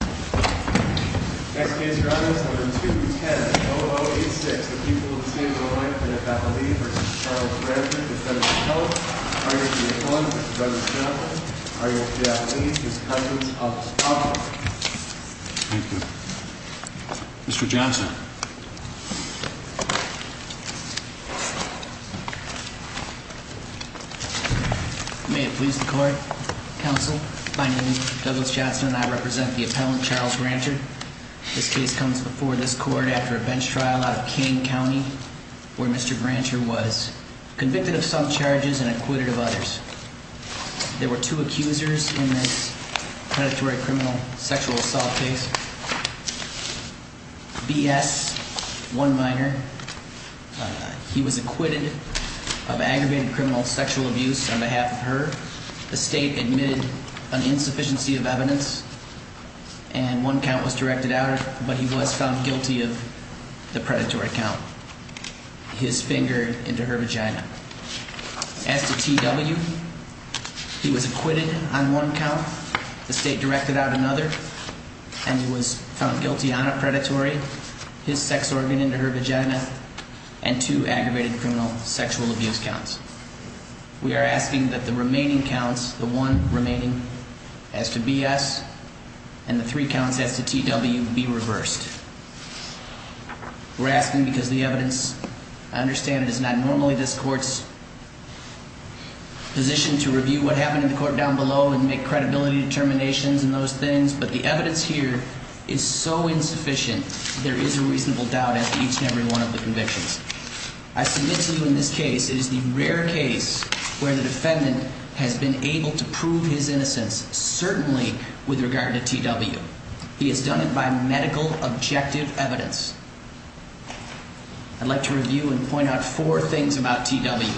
210-0086, the people of the state of Illinois, defendant Battelle Lee v. Charles Granter, defendant Schultz, argument of the defendant v. Douglas Jackson, argument of the defendant Lee v. Cousins of Spaulding. Thank you. Mr. Johnson. May it please the court, counsel. My name is Douglas Johnson and I represent the appellant Charles Granter. This case comes before this court after a bench trial out of Kane County where Mr. Granter was convicted of some charges and acquitted of others. There were two accusers in this predatory criminal sexual assault case. B.S., one minor, he was acquitted of aggravated criminal sexual abuse on behalf of her. The state admitted an insufficiency of evidence and one count was directed out, but he was found guilty of the predatory count. His finger into her vagina. As to T.W., he was acquitted on one count. The state directed out another and he was found guilty on a predatory, his sex organ into her vagina, and two aggravated criminal sexual abuse counts. We are asking that the remaining counts, the one remaining, as to B.S. and the three counts as to T.W. be reversed. We're asking because the evidence, I understand, is not normally this court's position to review what happened in the court down below and make credibility determinations and those things, but the evidence here is so insufficient, there is a reasonable doubt at each and every one of the convictions. I submit to you in this case, it is the rare case where the defendant has been able to prove his innocence, certainly with regard to T.W. He has done it by medical objective evidence. I'd like to review and point out four things about T.W.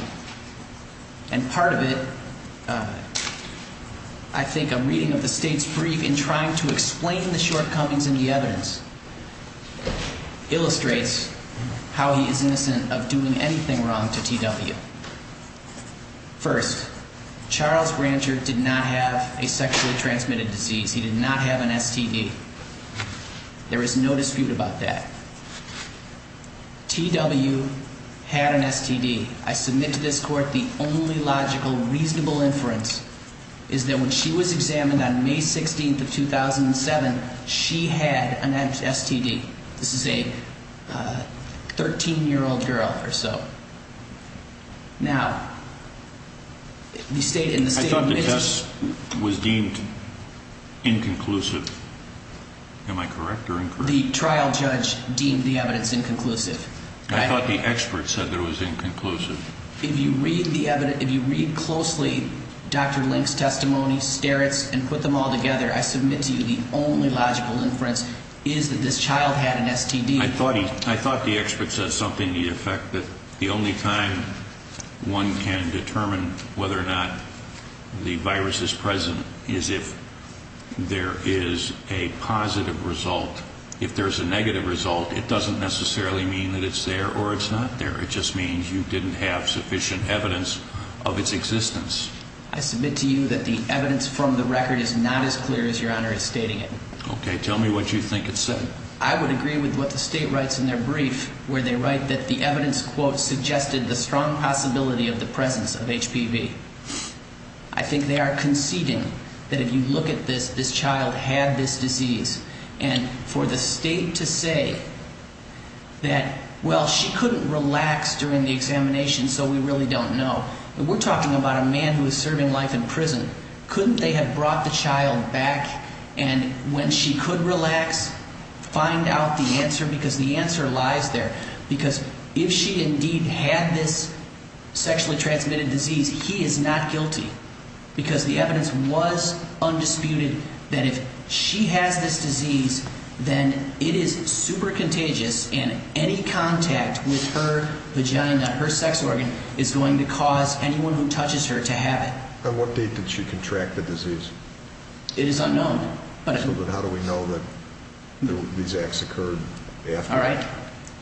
And part of it, I think a reading of the state's brief in trying to explain the shortcomings in the evidence illustrates how he is innocent of doing anything wrong to T.W. First, Charles Brancher did not have a sexually transmitted disease. He did not have an STD. There is no dispute about that. T.W. had an STD. I submit to this court the only logical, reasonable inference is that when she was examined on May 16th of 2007, she had an STD. This is a 13-year-old girl or so. Now, in the state of Michigan... I thought the test was deemed inconclusive. Am I correct or incorrect? The trial judge deemed the evidence inconclusive. I thought the expert said that it was inconclusive. If you read the evidence, if you read closely Dr. Link's testimony, Sterrit's, and put them all together, I submit to you the only logical inference is that this child had an STD. I thought the expert said something to the effect that the only time one can determine whether or not the virus is present is if there is a positive result. If there is a negative result, it doesn't necessarily mean that it's there or it's not there. It just means you didn't have sufficient evidence of its existence. I submit to you that the evidence from the record is not as clear as Your Honor is stating it. Okay. Tell me what you think it said. I would agree with what the state writes in their brief where they write that the evidence, quote, suggested the strong possibility of the presence of HPV. I think they are conceding that if you look at this, this child had this disease. And for the state to say that, well, she couldn't relax during the examination, so we really don't know. We're talking about a man who is serving life in prison. Couldn't they have brought the child back and when she could relax, find out the answer? Because the answer lies there. Because if she indeed had this sexually transmitted disease, he is not guilty because the evidence was undisputed that if she has this disease, then it is super contagious and any contact with her vagina, her sex organ, is going to cause anyone who touches her to have it. On what date did she contract the disease? It is unknown. But how do we know that these acts occurred after? All right.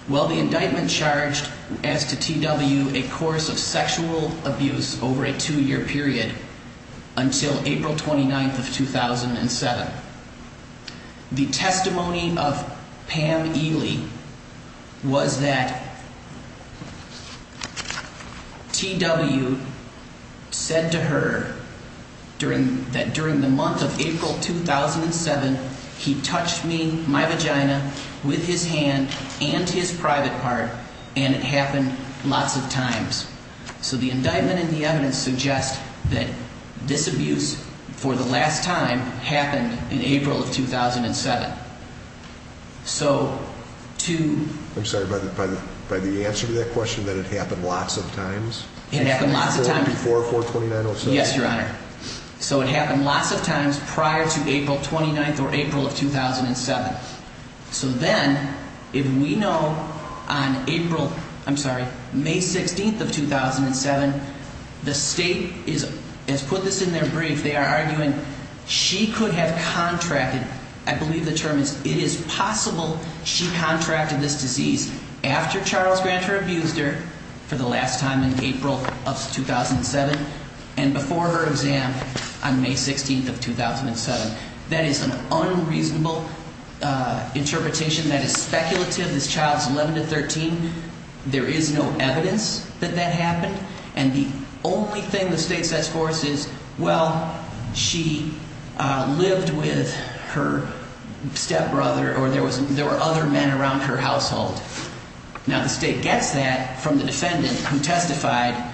Well, the indictment charged, as to TW, a course of sexual abuse over a two-year period until April 29th of 2007. The testimony of Pam Ely was that TW said to her that during the month of April 2007, he touched me, my vagina, with his hand and his private part, and it happened lots of times. So the indictment and the evidence suggest that this abuse, for the last time, happened in April of 2007. So to... I'm sorry, by the answer to that question, that it happened lots of times? It happened lots of times. Before 4-29-07? Yes, Your Honor. So it happened lots of times prior to April 29th or April of 2007. So then, if we know on April, I'm sorry, May 16th of 2007, the State has put this in their brief. They are arguing she could have contracted, I believe the term is, it is possible she contracted this disease after Charles Granter abused her for the last time in April of 2007 and before her exam on May 16th of 2007. That is an unreasonable interpretation. That is speculative. This child is 11 to 13. There is no evidence that that happened. And the only thing the State sets forth is, well, she lived with her stepbrother or there were other men around her household. Now, the State gets that from the defendant who testified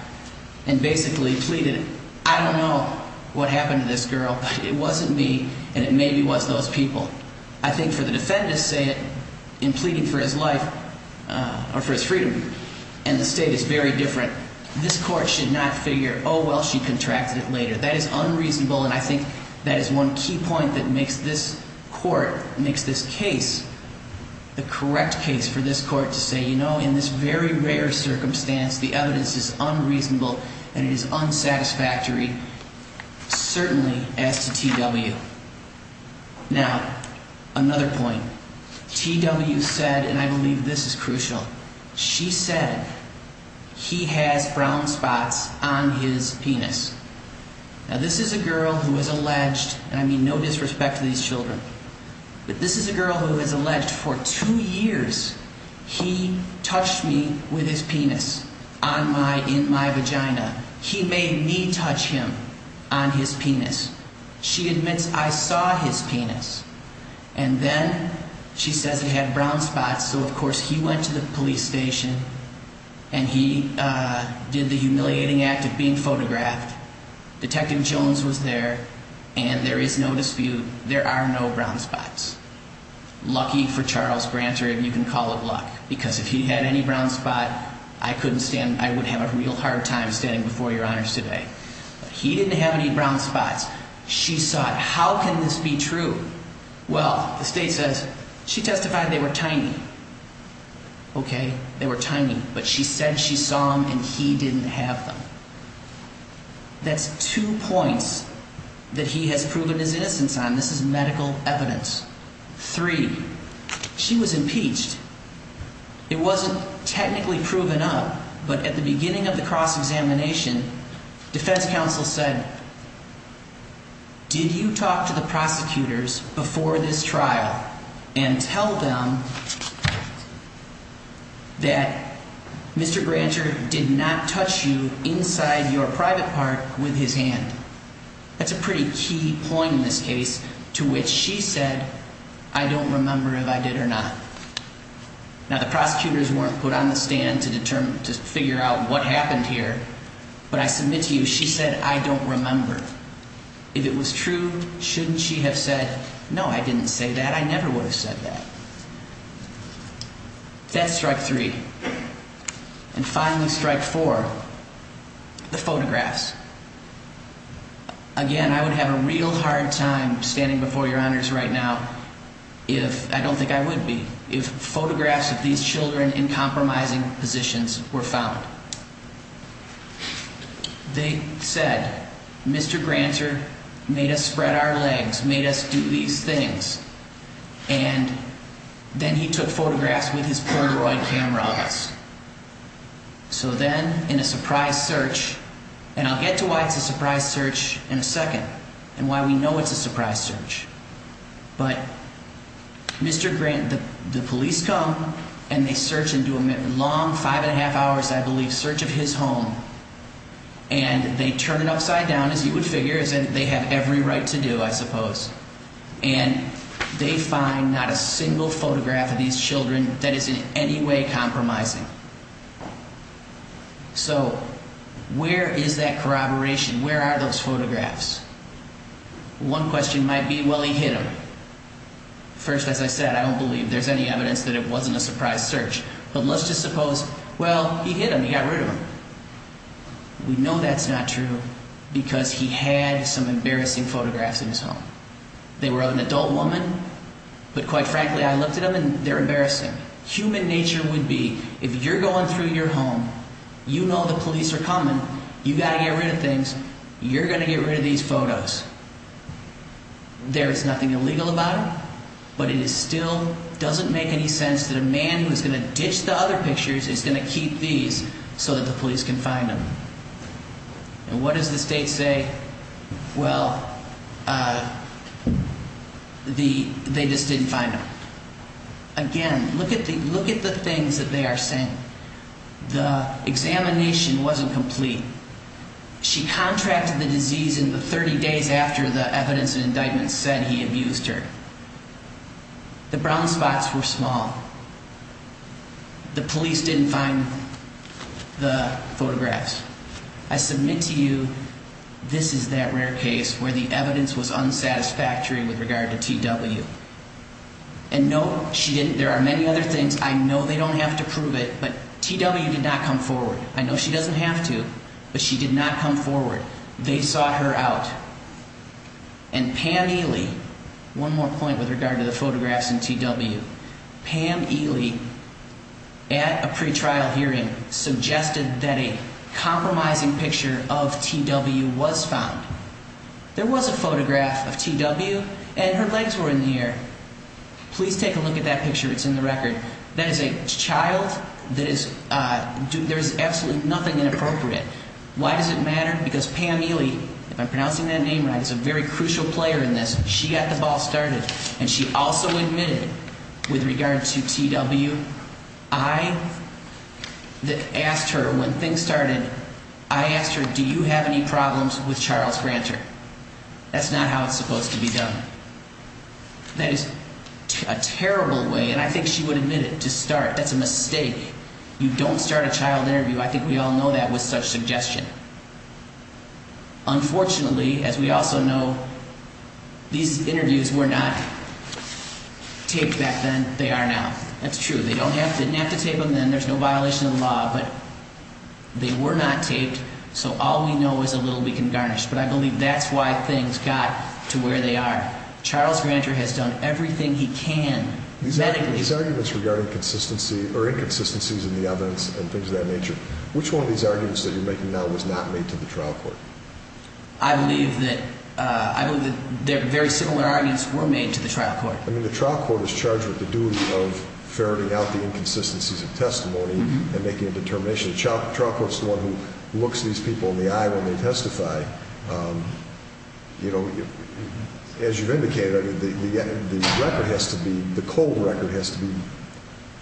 and basically pleaded, I don't know what happened to this girl. It wasn't me, and it maybe was those people. I think for the defendants, say it, in pleading for his life or for his freedom, and the State is very different, this Court should not figure, oh, well, she contracted it later. That is unreasonable, and I think that is one key point that makes this Court, makes this case the correct case for this Court to say, you know, in this very rare circumstance, the evidence is unreasonable and it is unsatisfactory, certainly as to T.W. Now, another point. T.W. said, and I believe this is crucial, she said he has brown spots on his penis. Now, this is a girl who is alleged, and I mean no disrespect to these children, but this is a girl who is alleged for two years he touched me with his penis on my, in my vagina. He made me touch him on his penis. She admits I saw his penis. And then she says he had brown spots, so of course he went to the police station and he did the humiliating act of being photographed. Detective Jones was there, and there is no dispute, there are no brown spots. Lucky for Charles Grant, or you can call it luck, because if he had any brown spot, I couldn't stand, I would have a real hard time standing before your honors today. He didn't have any brown spots. She saw it. How can this be true? Well, the state says, she testified they were tiny. Okay, they were tiny, but she said she saw them and he didn't have them. That's two points that he has proven his innocence on. This is medical evidence. Three, she was impeached. It wasn't technically proven up, but at the beginning of the cross-examination, defense counsel said, did you talk to the prosecutors before this trial and tell them that Mr. Granter did not touch you inside your private part with his hand? That's a pretty key point in this case to which she said, I don't remember if I did or not. Now, the prosecutors weren't put on the stand to determine, to figure out what happened here. But I submit to you, she said, I don't remember. If it was true, shouldn't she have said, no, I didn't say that. I never would have said that. That's strike three. And finally, strike four, the photographs. Again, I would have a real hard time standing before your honors right now if, I don't think I would be, if photographs of these children in compromising positions were found. They said, Mr. Granter made us spread our legs, made us do these things. And then he took photographs with his Polaroid camera on us. So then, in a surprise search, and I'll get to why it's a surprise search in a second and why we know it's a surprise search. But Mr. Grant, the police come and they search into a long five and a half hours, I believe, search of his home. And they turn it upside down, as you would figure, as they have every right to do, I suppose. And they find not a single photograph of these children that is in any way compromising. So where is that corroboration? Where are those photographs? One question might be, well, he hid them. First, as I said, I don't believe there's any evidence that it wasn't a surprise search. But let's just suppose, well, he hid them, he got rid of them. We know that's not true because he had some embarrassing photographs in his home. They were of an adult woman, but quite frankly, I looked at them and they're embarrassing. Human nature would be, if you're going through your home, you know the police are coming, you've got to get rid of things, you're going to get rid of these photos. There is nothing illegal about them, but it still doesn't make any sense that a man who is going to ditch the other pictures is going to keep these so that the police can find them. And what does the state say? Well, they just didn't find them. Again, look at the things that they are saying. The examination wasn't complete. She contracted the disease in the 30 days after the evidence and indictment said he abused her. The brown spots were small. The police didn't find the photographs. I submit to you, this is that rare case where the evidence was unsatisfactory with regard to TW. And no, she didn't, there are many other things, I know they don't have to prove it, but TW did not come forward. I know she doesn't have to, but she did not come forward. They sought her out. And Pam Ely, one more point with regard to the photographs in TW, Pam Ely at a pretrial hearing suggested that a compromising picture of TW was found. There was a photograph of TW and her legs were in the air. Please take a look at that picture, it's in the record. That is a child that is, there is absolutely nothing inappropriate. Why does it matter? Because Pam Ely, if I'm pronouncing that name right, is a very crucial player in this. She got the ball started. And she also admitted with regard to TW, I asked her when things started, I asked her, do you have any problems with Charles Granter? That's not how it's supposed to be done. That is a terrible way, and I think she would admit it, to start. That's a mistake. You don't start a child interview, I think we all know that, with such suggestion. Unfortunately, as we also know, these interviews were not taped back then, they are now. That's true, they don't have to, didn't have to tape them then, there's no violation of the law, but they were not taped, so all we know is a little we can garnish. But I believe that's why things got to where they are. Charles Granter has done everything he can. These arguments regarding inconsistencies in the evidence and things of that nature, which one of these arguments that you're making now was not made to the trial court? I believe that, I believe that very similar arguments were made to the trial court. I mean, the trial court is charged with the duty of ferreting out the inconsistencies of testimony and making a determination. The trial court is the one who looks these people in the eye when they testify. You know, as you've indicated, the record has to be, the cold record has to be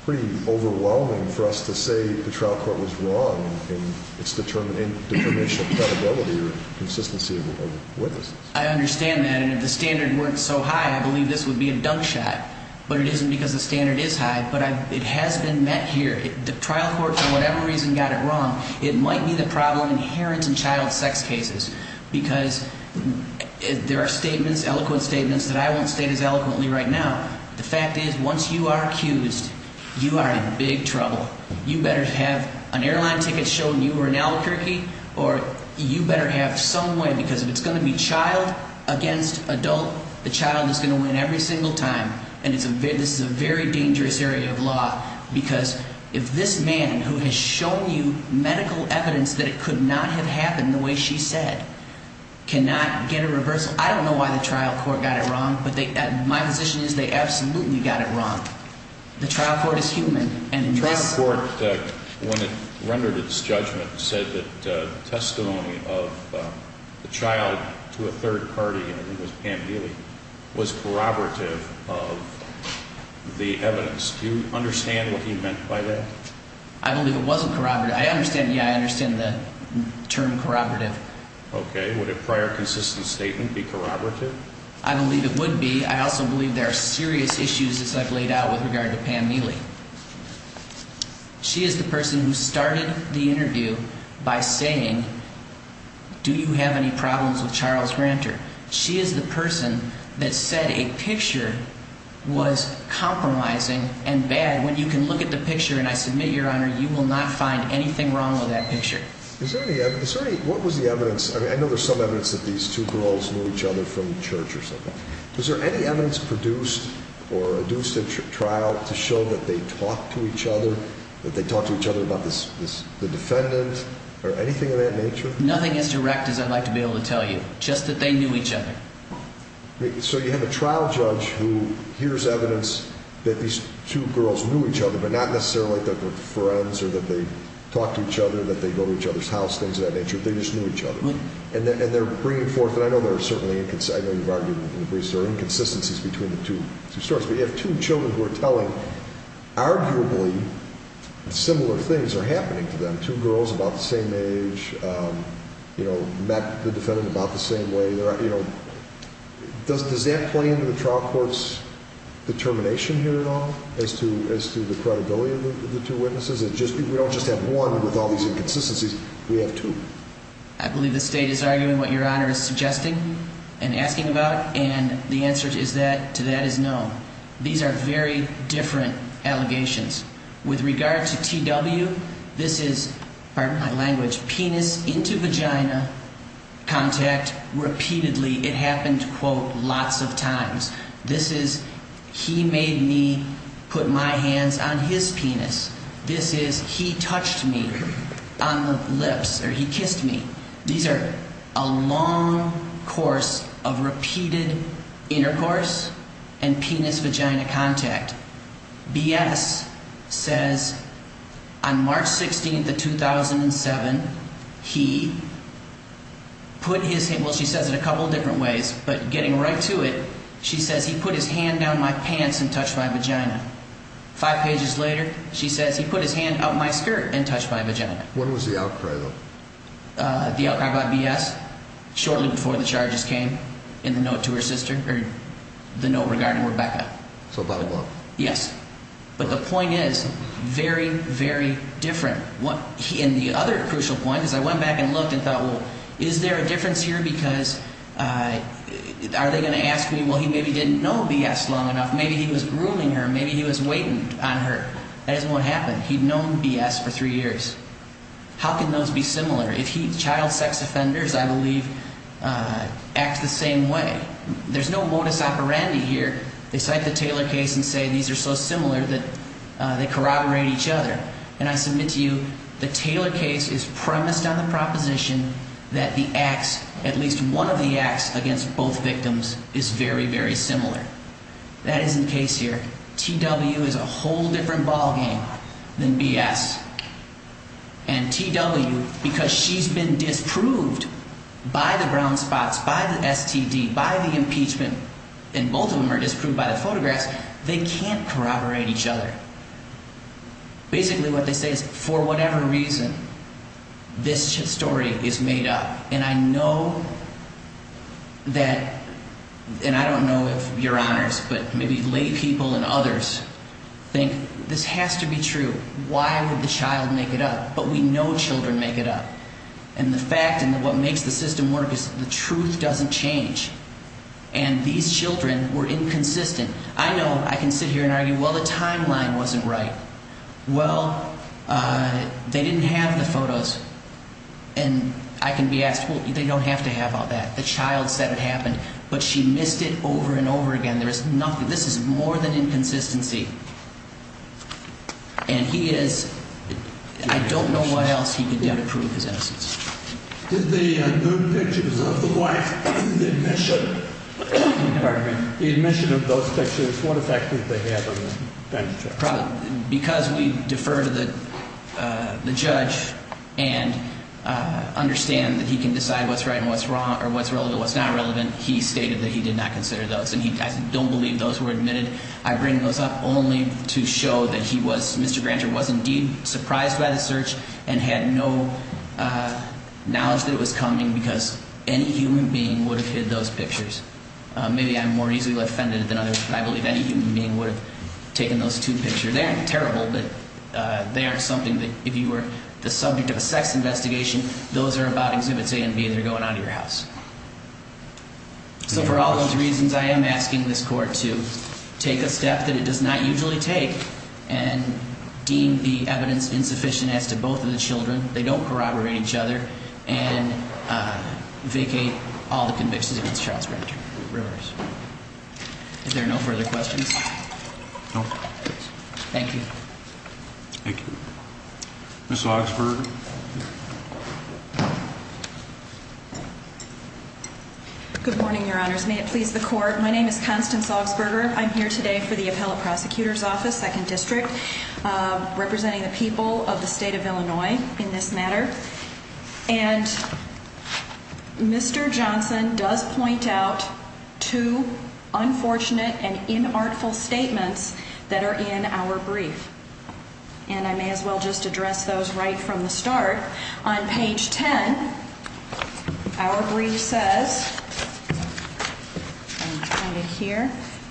pretty overwhelming for us to say the trial court was wrong in its determination of credibility or consistency of witnesses. I understand that, and if the standard weren't so high, I believe this would be a dunk shot. But it isn't because the standard is high, but it has been met here. The trial court, for whatever reason, got it wrong. It might be the problem inherent in child sex cases, because there are statements, eloquent statements, that I won't state as eloquently right now. The fact is, once you are accused, you are in big trouble. You better have an airline ticket showing you were an albuquerque, or you better have some way, because if it's going to be child against adult, the child is going to win every single time. And this is a very dangerous area of law, because if this man, who has shown you medical evidence that it could not have happened the way she said, cannot get a reversal. I don't know why the trial court got it wrong, but my position is they absolutely got it wrong. The trial court is human. The trial court, when it rendered its judgment, said that testimony of the child to a third party, and it was Pam Neely, was corroborative of the evidence. Do you understand what he meant by that? I believe it wasn't corroborative. I understand, yeah, I understand the term corroborative. Okay. Would a prior consistent statement be corroborative? I believe it would be. I also believe there are serious issues, as I've laid out, with regard to Pam Neely. She is the person who started the interview by saying, do you have any problems with Charles Granter? She is the person that said a picture was compromising and bad. When you can look at the picture, and I submit, Your Honor, you will not find anything wrong with that picture. What was the evidence? I know there's some evidence that these two girls knew each other from church or something. Was there any evidence produced or induced in trial to show that they talked to each other, that they talked to each other about the defendant or anything of that nature? Nothing as direct as I'd like to be able to tell you, just that they knew each other. So you have a trial judge who hears evidence that these two girls knew each other, but not necessarily that they were friends or that they talked to each other, that they go to each other's house, things of that nature. They just knew each other. And they're bringing forth, and I know there are certainly inconsistencies between the two stories, but you have two children who are telling arguably similar things are happening to them, two girls about the same age, met the defendant about the same way. Does that play into the trial court's determination here at all as to the credibility of the two witnesses? We don't just have one with all these inconsistencies. We have two. I believe the State is arguing what Your Honor is suggesting and asking about, and the answer to that is no. These are very different allegations. With regard to T.W., this is, pardon my language, penis into vagina contact repeatedly. It happened, quote, lots of times. This is he made me put my hands on his penis. This is he touched me on the lips or he kissed me. These are a long course of repeated intercourse and penis-vagina contact. B.S. says on March 16th of 2007, he put his hand, well, she says it a couple of different ways, but getting right to it, she says he put his hand down my pants and touched my vagina. Five pages later, she says he put his hand up my skirt and touched my vagina. When was the outcry, though? The outcry by B.S. shortly before the charges came in the note to her sister, or the note regarding Rebecca. So about a month. Yes, but the point is very, very different. And the other crucial point is I went back and looked and thought, well, is there a difference here because are they going to ask me, well, he maybe didn't know B.S. long enough. Maybe he was grueling her. Maybe he was waiting on her. That isn't what happened. He'd known B.S. for three years. How can those be similar? If child sex offenders, I believe, act the same way, there's no modus operandi here. They cite the Taylor case and say these are so similar that they corroborate each other. And I submit to you the Taylor case is premised on the proposition that the acts, at least one of the acts, against both victims is very, very similar. That isn't the case here. T.W. is a whole different ballgame than B.S. And T.W., because she's been disproved by the brown spots, by the STD, by the impeachment, and both of them are disproved by the photographs, they can't corroborate each other. Basically what they say is for whatever reason, this story is made up. And I know that, and I don't know if your honors, but maybe laypeople and others think this has to be true. Why would the child make it up? But we know children make it up. And the fact and what makes the system work is the truth doesn't change. And these children were inconsistent. I know I can sit here and argue, well, the timeline wasn't right. Well, they didn't have the photos. And I can be asked, well, they don't have to have all that. The child said it happened, but she missed it over and over again. There is nothing. This is more than inconsistency. And he is, I don't know what else he could do to prove his innocence. Did the nude pictures of the wife, the admission of those pictures, what effect did they have on the bench? Because we defer to the judge and understand that he can decide what's right and what's wrong or what's relevant, what's not relevant, he stated that he did not consider those. And I don't believe those were admitted. I bring those up only to show that he was, Mr. Granger was indeed surprised by the search and had no knowledge that it was coming because any human being would have hid those pictures. Maybe I'm more easily offended than others, but I believe any human being would have taken those two pictures. They aren't terrible, but they aren't something that if you were the subject of a sex investigation, those are about exhibits A and B that are going out of your house. So for all those reasons, I am asking this court to take a step that it does not usually take and deem the evidence insufficient as to both of the children. They don't corroborate each other and vacate all the convictions against Charles Granger. Is there no further questions? No. Thank you. Thank you. Ms. Augsburger. Good morning, Your Honors. May it please the court. My name is Constance Augsburger. I'm here today for the appellate prosecutor's office, second district, representing the people of the state of Illinois in this matter. And Mr. Johnson does point out two unfortunate and inartful statements that are in our brief. And I may as well just address those right from the start. On page 10, our brief says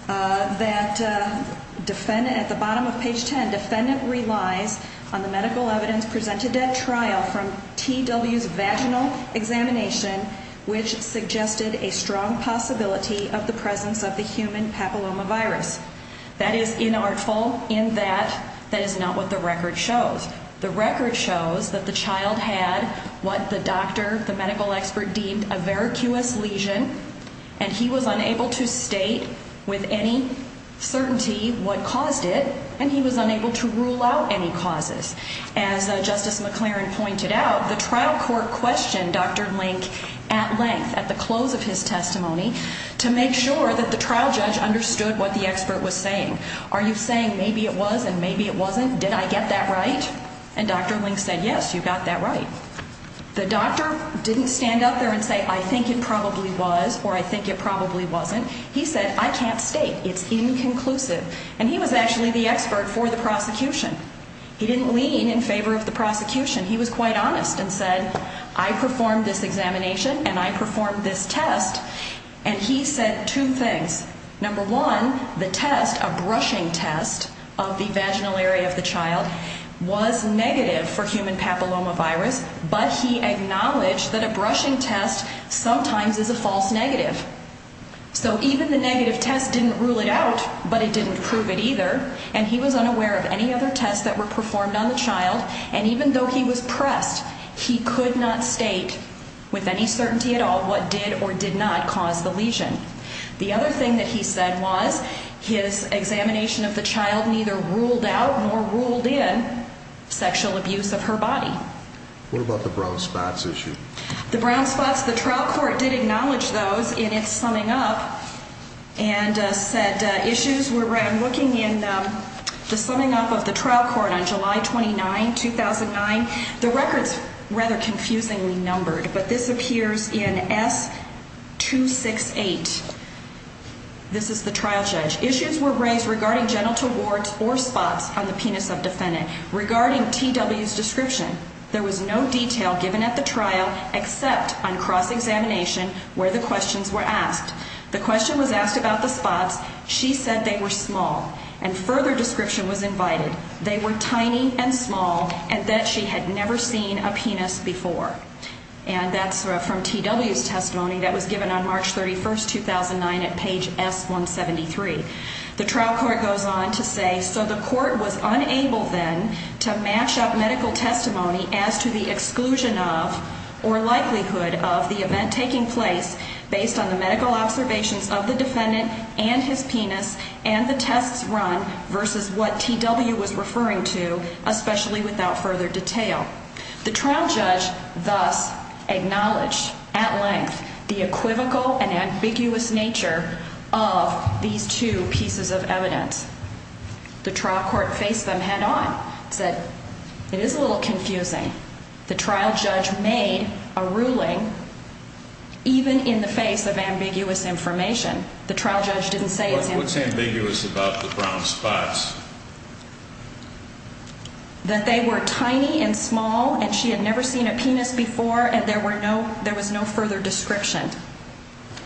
that at the bottom of page 10, defendant relies on the medical evidence presented at trial from TW's vaginal examination, which suggested a strong possibility of the presence of the human papillomavirus. That is inartful in that that is not what the record shows. The record shows that the child had what the doctor, the medical expert, deemed a varicose lesion, and he was unable to state with any certainty what caused it, and he was unable to rule out any causes. As Justice McLaren pointed out, the trial court questioned Dr. Link at length at the close of his testimony to make sure that the trial judge understood what the expert was saying. Are you saying maybe it was and maybe it wasn't? Did I get that right? And Dr. Link said, yes, you got that right. The doctor didn't stand up there and say, I think it probably was or I think it probably wasn't. He said, I can't state. It's inconclusive. And he was actually the expert for the prosecution. He didn't lean in favor of the prosecution. He was quite honest and said, I performed this examination and I performed this test. And he said two things. Number one, the test, a brushing test of the vaginal area of the child, was negative for human papillomavirus, but he acknowledged that a brushing test sometimes is a false negative. So even the negative test didn't rule it out, but it didn't prove it either, and he was unaware of any other tests that were performed on the child, and even though he was pressed, he could not state with any certainty at all what did or did not cause the lesion. The other thing that he said was his examination of the child neither ruled out nor ruled in sexual abuse of her body. What about the brown spots issue? The brown spots, the trial court did acknowledge those in its summing up and said issues were, I'm looking in the summing up of the trial court on July 29, 2009. The record's rather confusingly numbered, but this appears in S268. This is the trial judge. Issues were raised regarding genital warts or spots on the penis of defendant. Regarding TW's description, there was no detail given at the trial except on cross-examination where the questions were asked. The question was asked about the spots. She said they were small, and further description was invited. They were tiny and small and that she had never seen a penis before, and that's from TW's testimony that was given on March 31, 2009 at page S173. The trial court goes on to say, so the court was unable then to match up medical testimony as to the exclusion of or likelihood of the event taking place based on the medical observations of the defendant and his penis and the tests run versus what TW was referring to, especially without further detail. The trial judge thus acknowledged at length the equivocal and ambiguous nature of these two pieces of evidence. The trial court faced them head on, said it is a little confusing. The trial judge made a ruling even in the face of ambiguous information. The trial judge didn't say it's ambiguous. What's ambiguous about the brown spots? That they were tiny and small and she had never seen a penis before and there was no further description.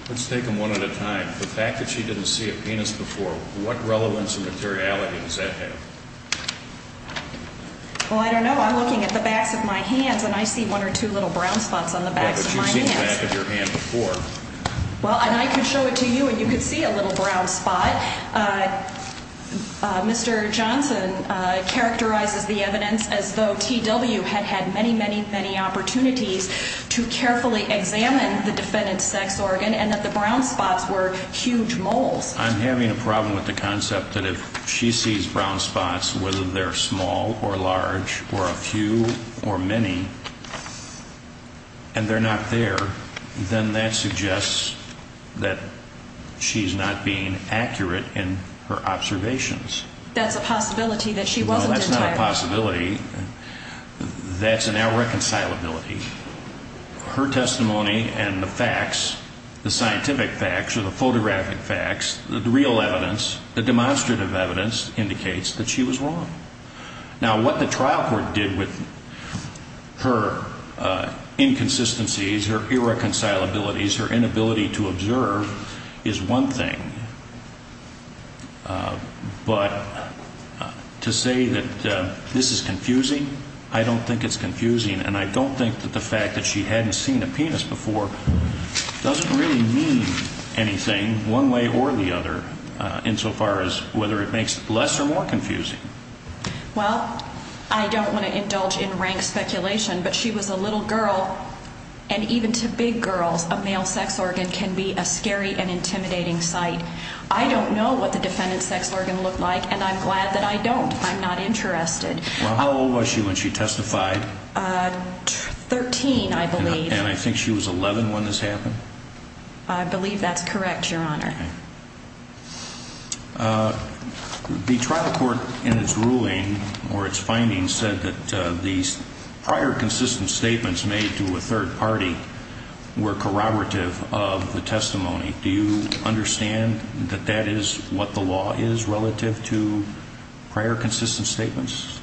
Let's take them one at a time. The fact that she didn't see a penis before, what relevance or materiality does that have? Well, I don't know. I'm looking at the backs of my hands and I see one or two little brown spots on the backs of my hands. But you've seen the back of your hand before. Well, and I could show it to you and you could see a little brown spot. Mr. Johnson characterizes the evidence as though TW had had many, many, many opportunities to carefully examine the defendant's sex organ and that the brown spots were huge moles. I'm having a problem with the concept that if she sees brown spots, whether they're small or large or a few or many, and they're not there, then that suggests that she's not being accurate in her observations. That's a possibility that she wasn't entirely. No, that's not a possibility. That's an irreconcilability. Her testimony and the facts, the scientific facts or the photographic facts, the real evidence, the demonstrative evidence indicates that she was wrong. Now, what the trial court did with her inconsistencies, her irreconcilabilities, her inability to observe is one thing. But to say that this is confusing, I don't think it's confusing. And I don't think that the fact that she hadn't seen a penis before doesn't really mean anything one way or the other insofar as whether it makes it less or more confusing. Well, I don't want to indulge in rank speculation, but she was a little girl, and even to big girls, a male sex organ can be a scary and intimidating sight. I don't know what the defendant's sex organ looked like, and I'm glad that I don't. I'm not interested. Well, how old was she when she testified? Thirteen, I believe. And I think she was 11 when this happened? I believe that's correct, Your Honor. The trial court in its ruling or its findings said that these prior consistent statements made to a third party were corroborative of the testimony. Do you understand that that is what the law is relative to prior consistent statements?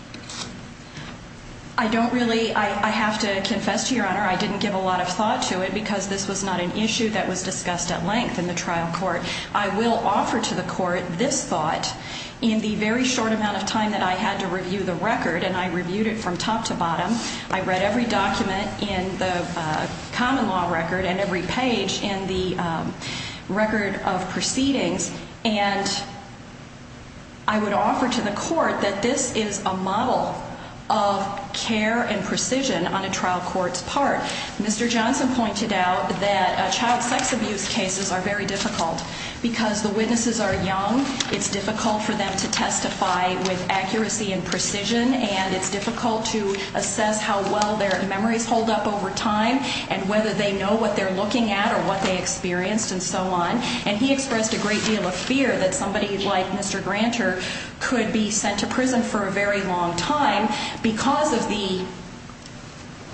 I don't really. I have to confess to Your Honor. I didn't give a lot of thought to it because this was not an issue that was discussed at length in the trial court. I will offer to the court this thought. In the very short amount of time that I had to review the record, and I reviewed it from top to bottom, I read every document in the common law record and every page in the record of proceedings, and I would offer to the court that this is a model of care and precision on a trial court's part. Mr. Johnson pointed out that child sex abuse cases are very difficult because the witnesses are young. It's difficult for them to testify with accuracy and precision, and it's difficult to assess how well their memories hold up over time and whether they know what they're looking at or what they experienced and so on. And he expressed a great deal of fear that somebody like Mr. Granter could be sent to prison for a very long time because of the,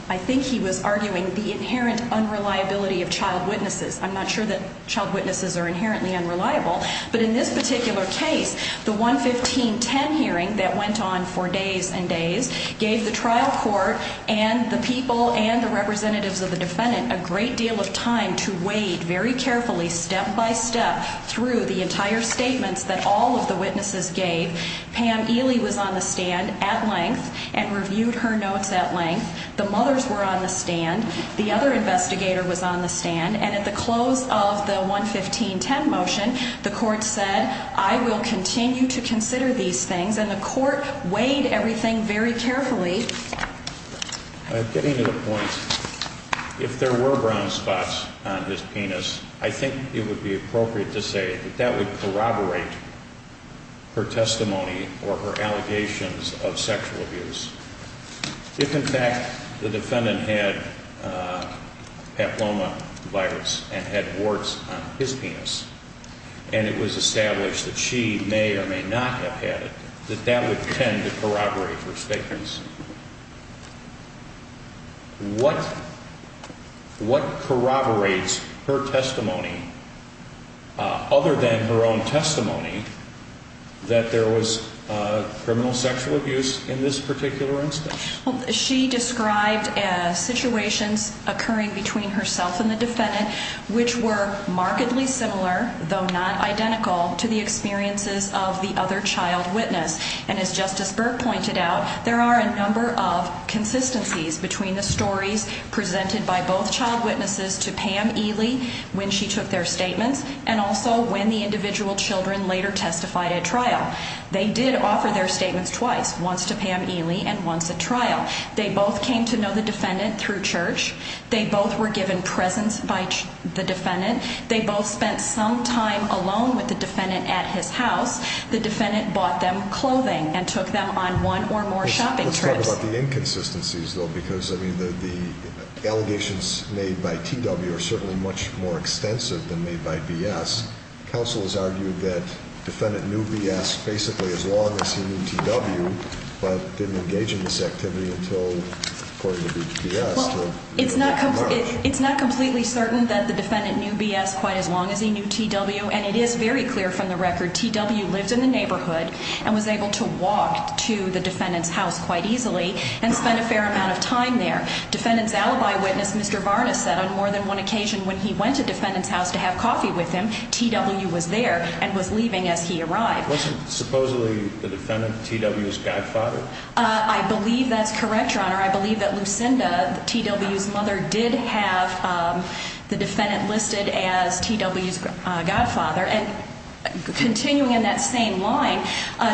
I think he was arguing, the inherent unreliability of child witnesses. I'm not sure that child witnesses are inherently unreliable, but in this particular case, the 11510 hearing that went on for days and days gave the trial court and the people and the representatives of the defendant a great deal of time to weigh very carefully, step by step, through the entire statements that all of the witnesses gave. Pam Ely was on the stand at length and reviewed her notes at length. The mothers were on the stand. The other investigator was on the stand, and at the close of the 11510 motion, the court said, I will continue to consider these things, and the court weighed everything very carefully. Getting to the point, if there were brown spots on his penis, I think it would be appropriate to say that that would corroborate her testimony or her allegations of sexual abuse. If, in fact, the defendant had papillomavirus and had warts on his penis, and it was established that she may or may not have had it, that that would tend to corroborate her statements. What corroborates her testimony, other than her own testimony, that there was criminal sexual abuse in this particular instance? Well, she described situations occurring between herself and the defendant, which were markedly similar, though not identical, to the experiences of the other child witness. And as Justice Burke pointed out, there are a number of consistencies between the stories presented by both child witnesses to Pam Ely, when she took their statements, and also when the individual children later testified at trial. They did offer their statements twice, once to Pam Ely and once at trial. They both came to know the defendant through church. They both were given presents by the defendant. They both spent some time alone with the defendant at his house. The defendant bought them clothing and took them on one or more shopping trips. Let's talk about the inconsistencies, though, because, I mean, the allegations made by TW are certainly much more extensive than made by BS. Counsel has argued that the defendant knew BS basically as long as he knew TW, but didn't engage in this activity until, according to BS. Well, it's not completely certain that the defendant knew BS quite as long as he knew TW, and it is very clear from the record TW lived in the neighborhood and was able to walk to the defendant's house quite easily and spend a fair amount of time there. Defendant's alibi witness, Mr. Varnas, said on more than one occasion when he went to defendant's house to have coffee with him, TW was there and was leaving as he arrived. Wasn't supposedly the defendant TW's godfather? I believe that's correct, Your Honor. I believe that Lucinda, TW's mother, did have the defendant listed as TW's godfather. And continuing in that same line,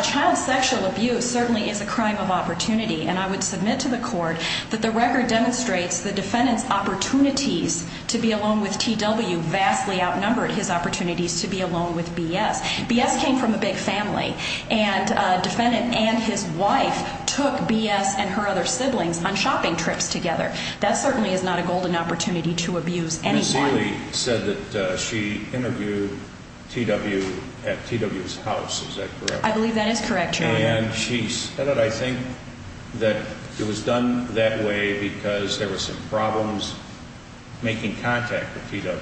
child sexual abuse certainly is a crime of opportunity, and I would submit to the court that the record demonstrates the defendant's opportunities to be alone with TW vastly outnumbered his opportunities to be alone with BS. BS came from a big family, and defendant and his wife took BS and her other siblings on shopping trips together. That certainly is not a golden opportunity to abuse anyone. Ms. Sealy said that she interviewed TW at TW's house. Is that correct? I believe that is correct, Your Honor. And she said, I think, that it was done that way because there were some problems making contact with TW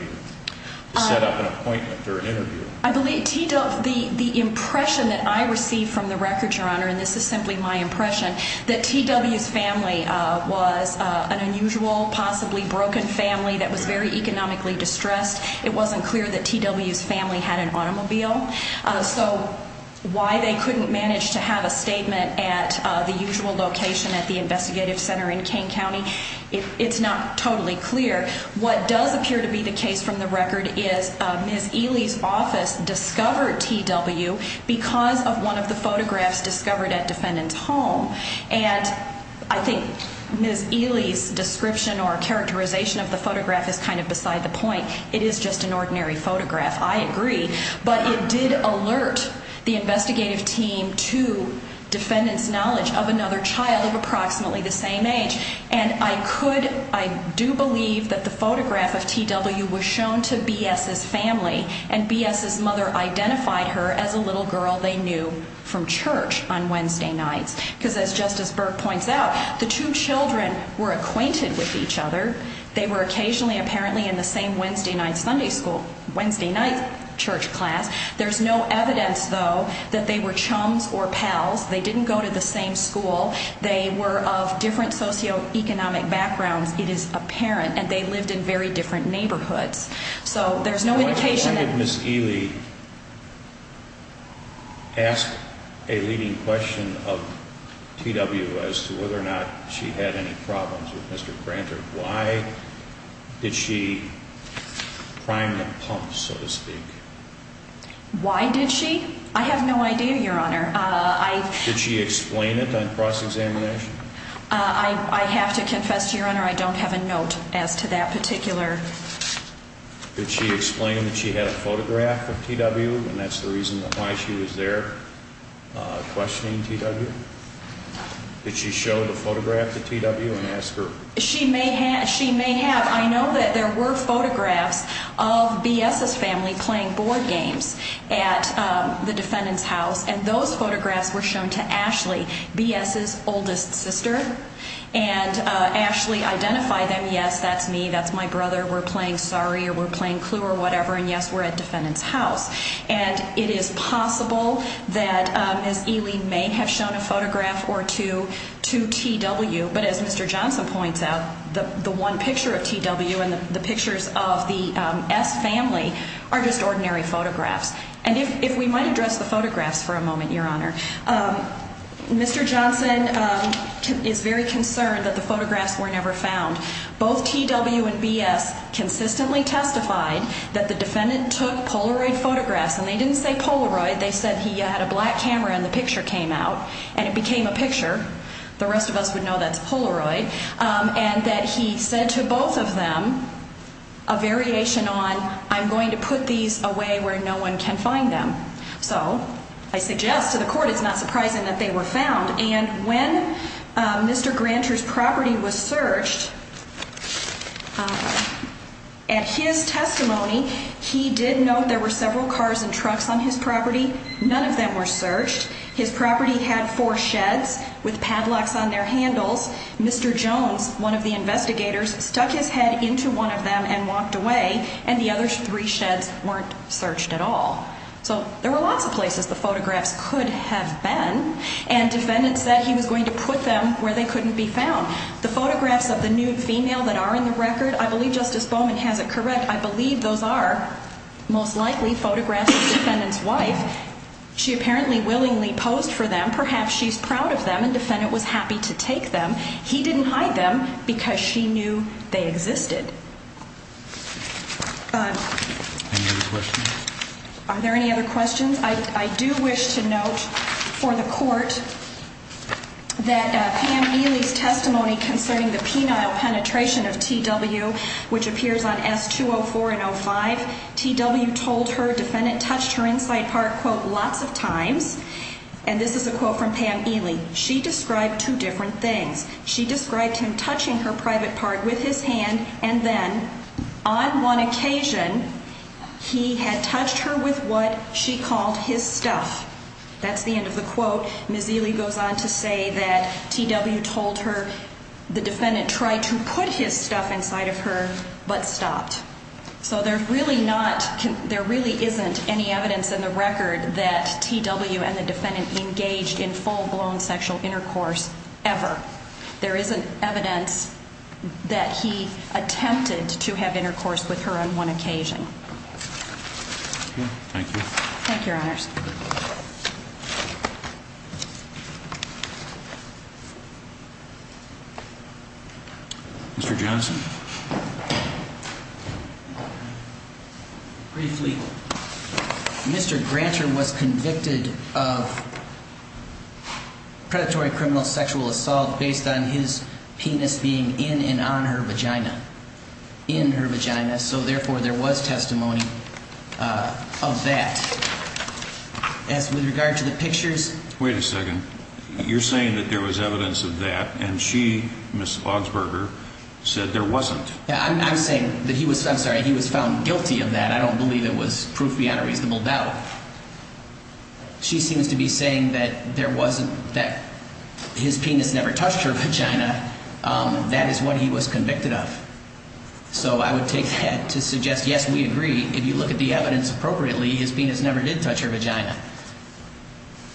to set up an appointment for an interview. I believe TW, the impression that I received from the record, Your Honor, and this is simply my impression, that TW's family was an unusual, possibly broken family that was very economically distressed. It wasn't clear that TW's family had an automobile. So why they couldn't manage to have a statement at the usual location at the investigative center in Kane County, it's not totally clear. What does appear to be the case from the record is Ms. Sealy's office discovered TW because of one of the photographs discovered at defendant's home. And I think Ms. Sealy's description or characterization of the photograph is kind of beside the point. It is just an ordinary photograph. I agree. But it did alert the investigative team to defendant's knowledge of another child of approximately the same age. And I could, I do believe that the photograph of TW was shown to BS's family, and BS's mother identified her as a little girl they knew from church on Wednesday nights. Because as Justice Burke points out, the two children were acquainted with each other. They were occasionally apparently in the same Wednesday night Sunday school, Wednesday night church class. There's no evidence, though, that they were chums or pals. They didn't go to the same school. They were of different socioeconomic backgrounds, it is apparent. And they lived in very different neighborhoods. So there's no indication that Ms. Sealy asked a leading question of TW as to whether or not she had any problems with Mr. Granter. Why did she prime the pump, so to speak? Why did she? I have no idea, Your Honor. Did she explain it on cross-examination? I have to confess, Your Honor, I don't have a note as to that particular. Did she explain that she had a photograph of TW and that's the reason why she was there questioning TW? Did she show the photograph to TW and ask her? She may have. I know that there were photographs of B.S.'s family playing board games at the defendant's house, and those photographs were shown to Ashley, B.S.'s oldest sister. And Ashley identified them, yes, that's me, that's my brother, we're playing sorry or we're playing clue or whatever, and yes, we're at defendant's house. And it is possible that Ms. Sealy may have shown a photograph or two to TW. But as Mr. Johnson points out, the one picture of TW and the pictures of the S. family are just ordinary photographs. And if we might address the photographs for a moment, Your Honor, Mr. Johnson is very concerned that the photographs were never found. Both TW and B.S. consistently testified that the defendant took Polaroid photographs, and they didn't say Polaroid, they said he had a black camera and the picture came out and it became a picture. The rest of us would know that's Polaroid. And that he said to both of them, a variation on, I'm going to put these away where no one can find them. So I suggest to the court it's not surprising that they were found. And when Mr. Granter's property was searched, at his testimony, he did note there were several cars and trucks on his property, none of them were searched. His property had four sheds with padlocks on their handles. Mr. Jones, one of the investigators, stuck his head into one of them and walked away, and the other three sheds weren't searched at all. So there were lots of places the photographs could have been, and defendants said he was going to put them where they couldn't be found. The photographs of the nude female that are in the record, I believe Justice Bowman has it correct, I believe those are most likely photographs of the defendant's wife. She apparently willingly posed for them. Perhaps she's proud of them and the defendant was happy to take them. He didn't hide them because she knew they existed. Any other questions? Are there any other questions? I do wish to note for the court that Pam Neely's testimony concerning the penile penetration of TW, which appears on S204 and S205, TW told her defendant touched her inside part, quote, lots of times. And this is a quote from Pam Neely. She described two different things. She described him touching her private part with his hand, and then on one occasion, he had touched her with what she called his stuff. That's the end of the quote. Ms. Neely goes on to say that TW told her the defendant tried to put his stuff inside of her but stopped. So there really isn't any evidence in the record that TW and the defendant engaged in full-blown sexual intercourse ever. There isn't evidence that he attempted to have intercourse with her on one occasion. Thank you. Thank you, Your Honors. Mr. Johnson. Briefly, Mr. Granter was convicted of predatory criminal sexual assault based on his penis being in and on her vagina, in her vagina. So, therefore, there was testimony of that. As with regard to the pictures. Wait a second. You're saying that there was evidence of that, and she, Ms. Augsburger, said there wasn't. I'm saying that he was found guilty of that. I don't believe it was proof beyond a reasonable doubt. She seems to be saying that there wasn't, that his penis never touched her vagina. That is what he was convicted of. So I would take that to suggest, yes, we agree. If you look at the evidence appropriately, his penis never did touch her vagina.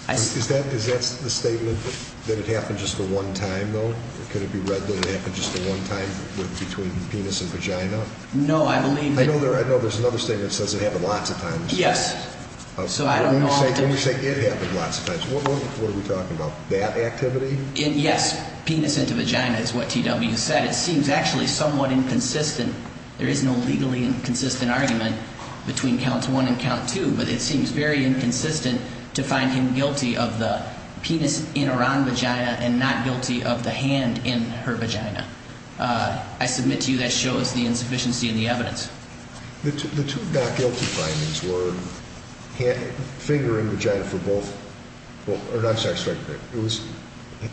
Is that the statement that it happened just the one time, though? Could it be read that it happened just the one time between penis and vagina? No, I believe that. I know there's another statement that says it happened lots of times. Yes. When we say it happened lots of times, what are we talking about? That activity? Yes. Penis into vagina is what TW said. It seems actually somewhat inconsistent. There is no legally inconsistent argument between count one and count two, but it seems very inconsistent to find him guilty of the penis in or on vagina and not guilty of the hand in her vagina. I submit to you that shows the insufficiency in the evidence. The two not guilty findings were finger in vagina for both. I'm sorry. It was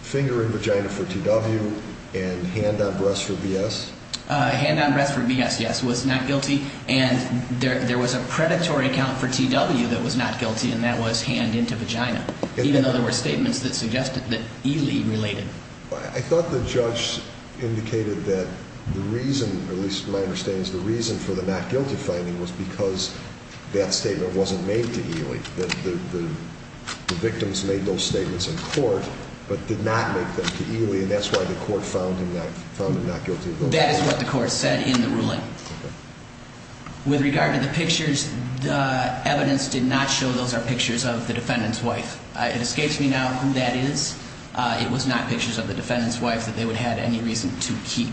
finger in vagina for TW and hand on breast for BS? Hand on breast for BS, yes, was not guilty, and there was a predatory account for TW that was not guilty, and that was hand into vagina, even though there were statements that suggested that Ely related. I thought the judge indicated that the reason, at least my understanding, the reason for the not guilty finding was because that statement wasn't made to Ely, that the victims made those statements in court but did not make them to Ely, and that's why the court found him not guilty of those. That is what the court said in the ruling. Okay. With regard to the pictures, the evidence did not show those are pictures of the defendant's wife. It escapes me now who that is. It was not pictures of the defendant's wife that they would have any reason to keep.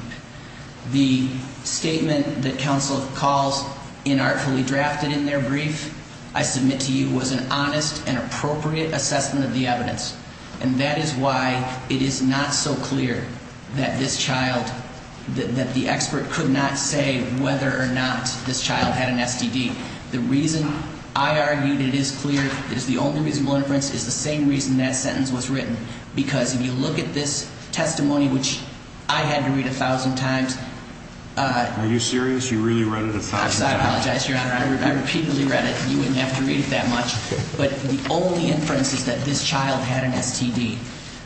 The statement that counsel calls inartfully drafted in their brief, I submit to you was an honest and appropriate assessment of the evidence, and that is why it is not so clear that this child, that the expert could not say whether or not this child had an STD. The reason I argue that it is clear that it is the only reasonable inference is the same reason that sentence was written, because if you look at this testimony, which I had to read 1,000 times. Are you serious? You really read it 1,000 times? I apologize, Your Honor. I repeatedly read it. You wouldn't have to read it that much. But the only inference is that this child had an STD.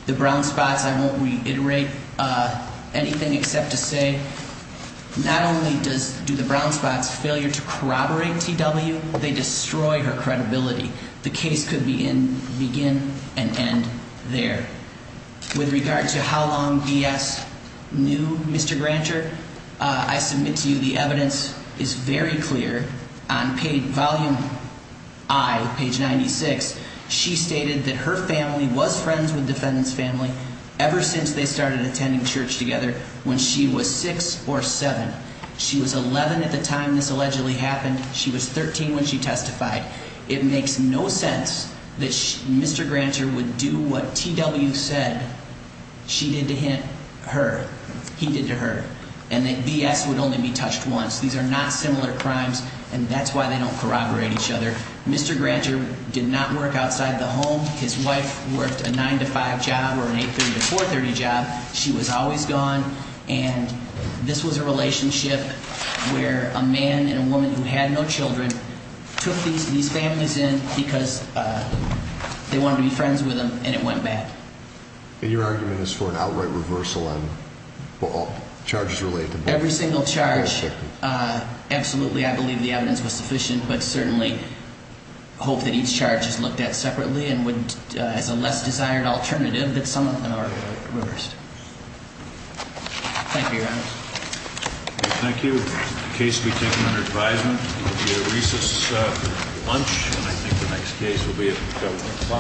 The brown spots, I won't reiterate anything except to say not only do the brown spots failure to corroborate TW, they destroy her credibility. The case could begin and end there. With regard to how long B.S. knew Mr. Grancher, I submit to you the evidence is very clear. On page volume I, page 96, she stated that her family was friends with defendant's family ever since they started attending church together when she was 6 or 7. She was 11 at the time this allegedly happened. She was 13 when she testified. It makes no sense that Mr. Grancher would do what TW said she did to her, he did to her, and that B.S. would only be touched once. These are not similar crimes, and that's why they don't corroborate each other. Mr. Grancher did not work outside the home. His wife worked a 9 to 5 job or an 8.30 to 4.30 job. She was always gone. And this was a relationship where a man and a woman who had no children took these families in because they wanted to be friends with them, and it went bad. And your argument is for an outright reversal on all charges related to B.S. Every single charge, absolutely I believe the evidence was sufficient, but certainly hope that each charge is looked at separately and as a less desired alternative that some of them are reversed. Thank you, Your Honor. Thank you. The case will be taken under advisement. It will be a recess lunch, and I think the next case will be at 7 o'clock.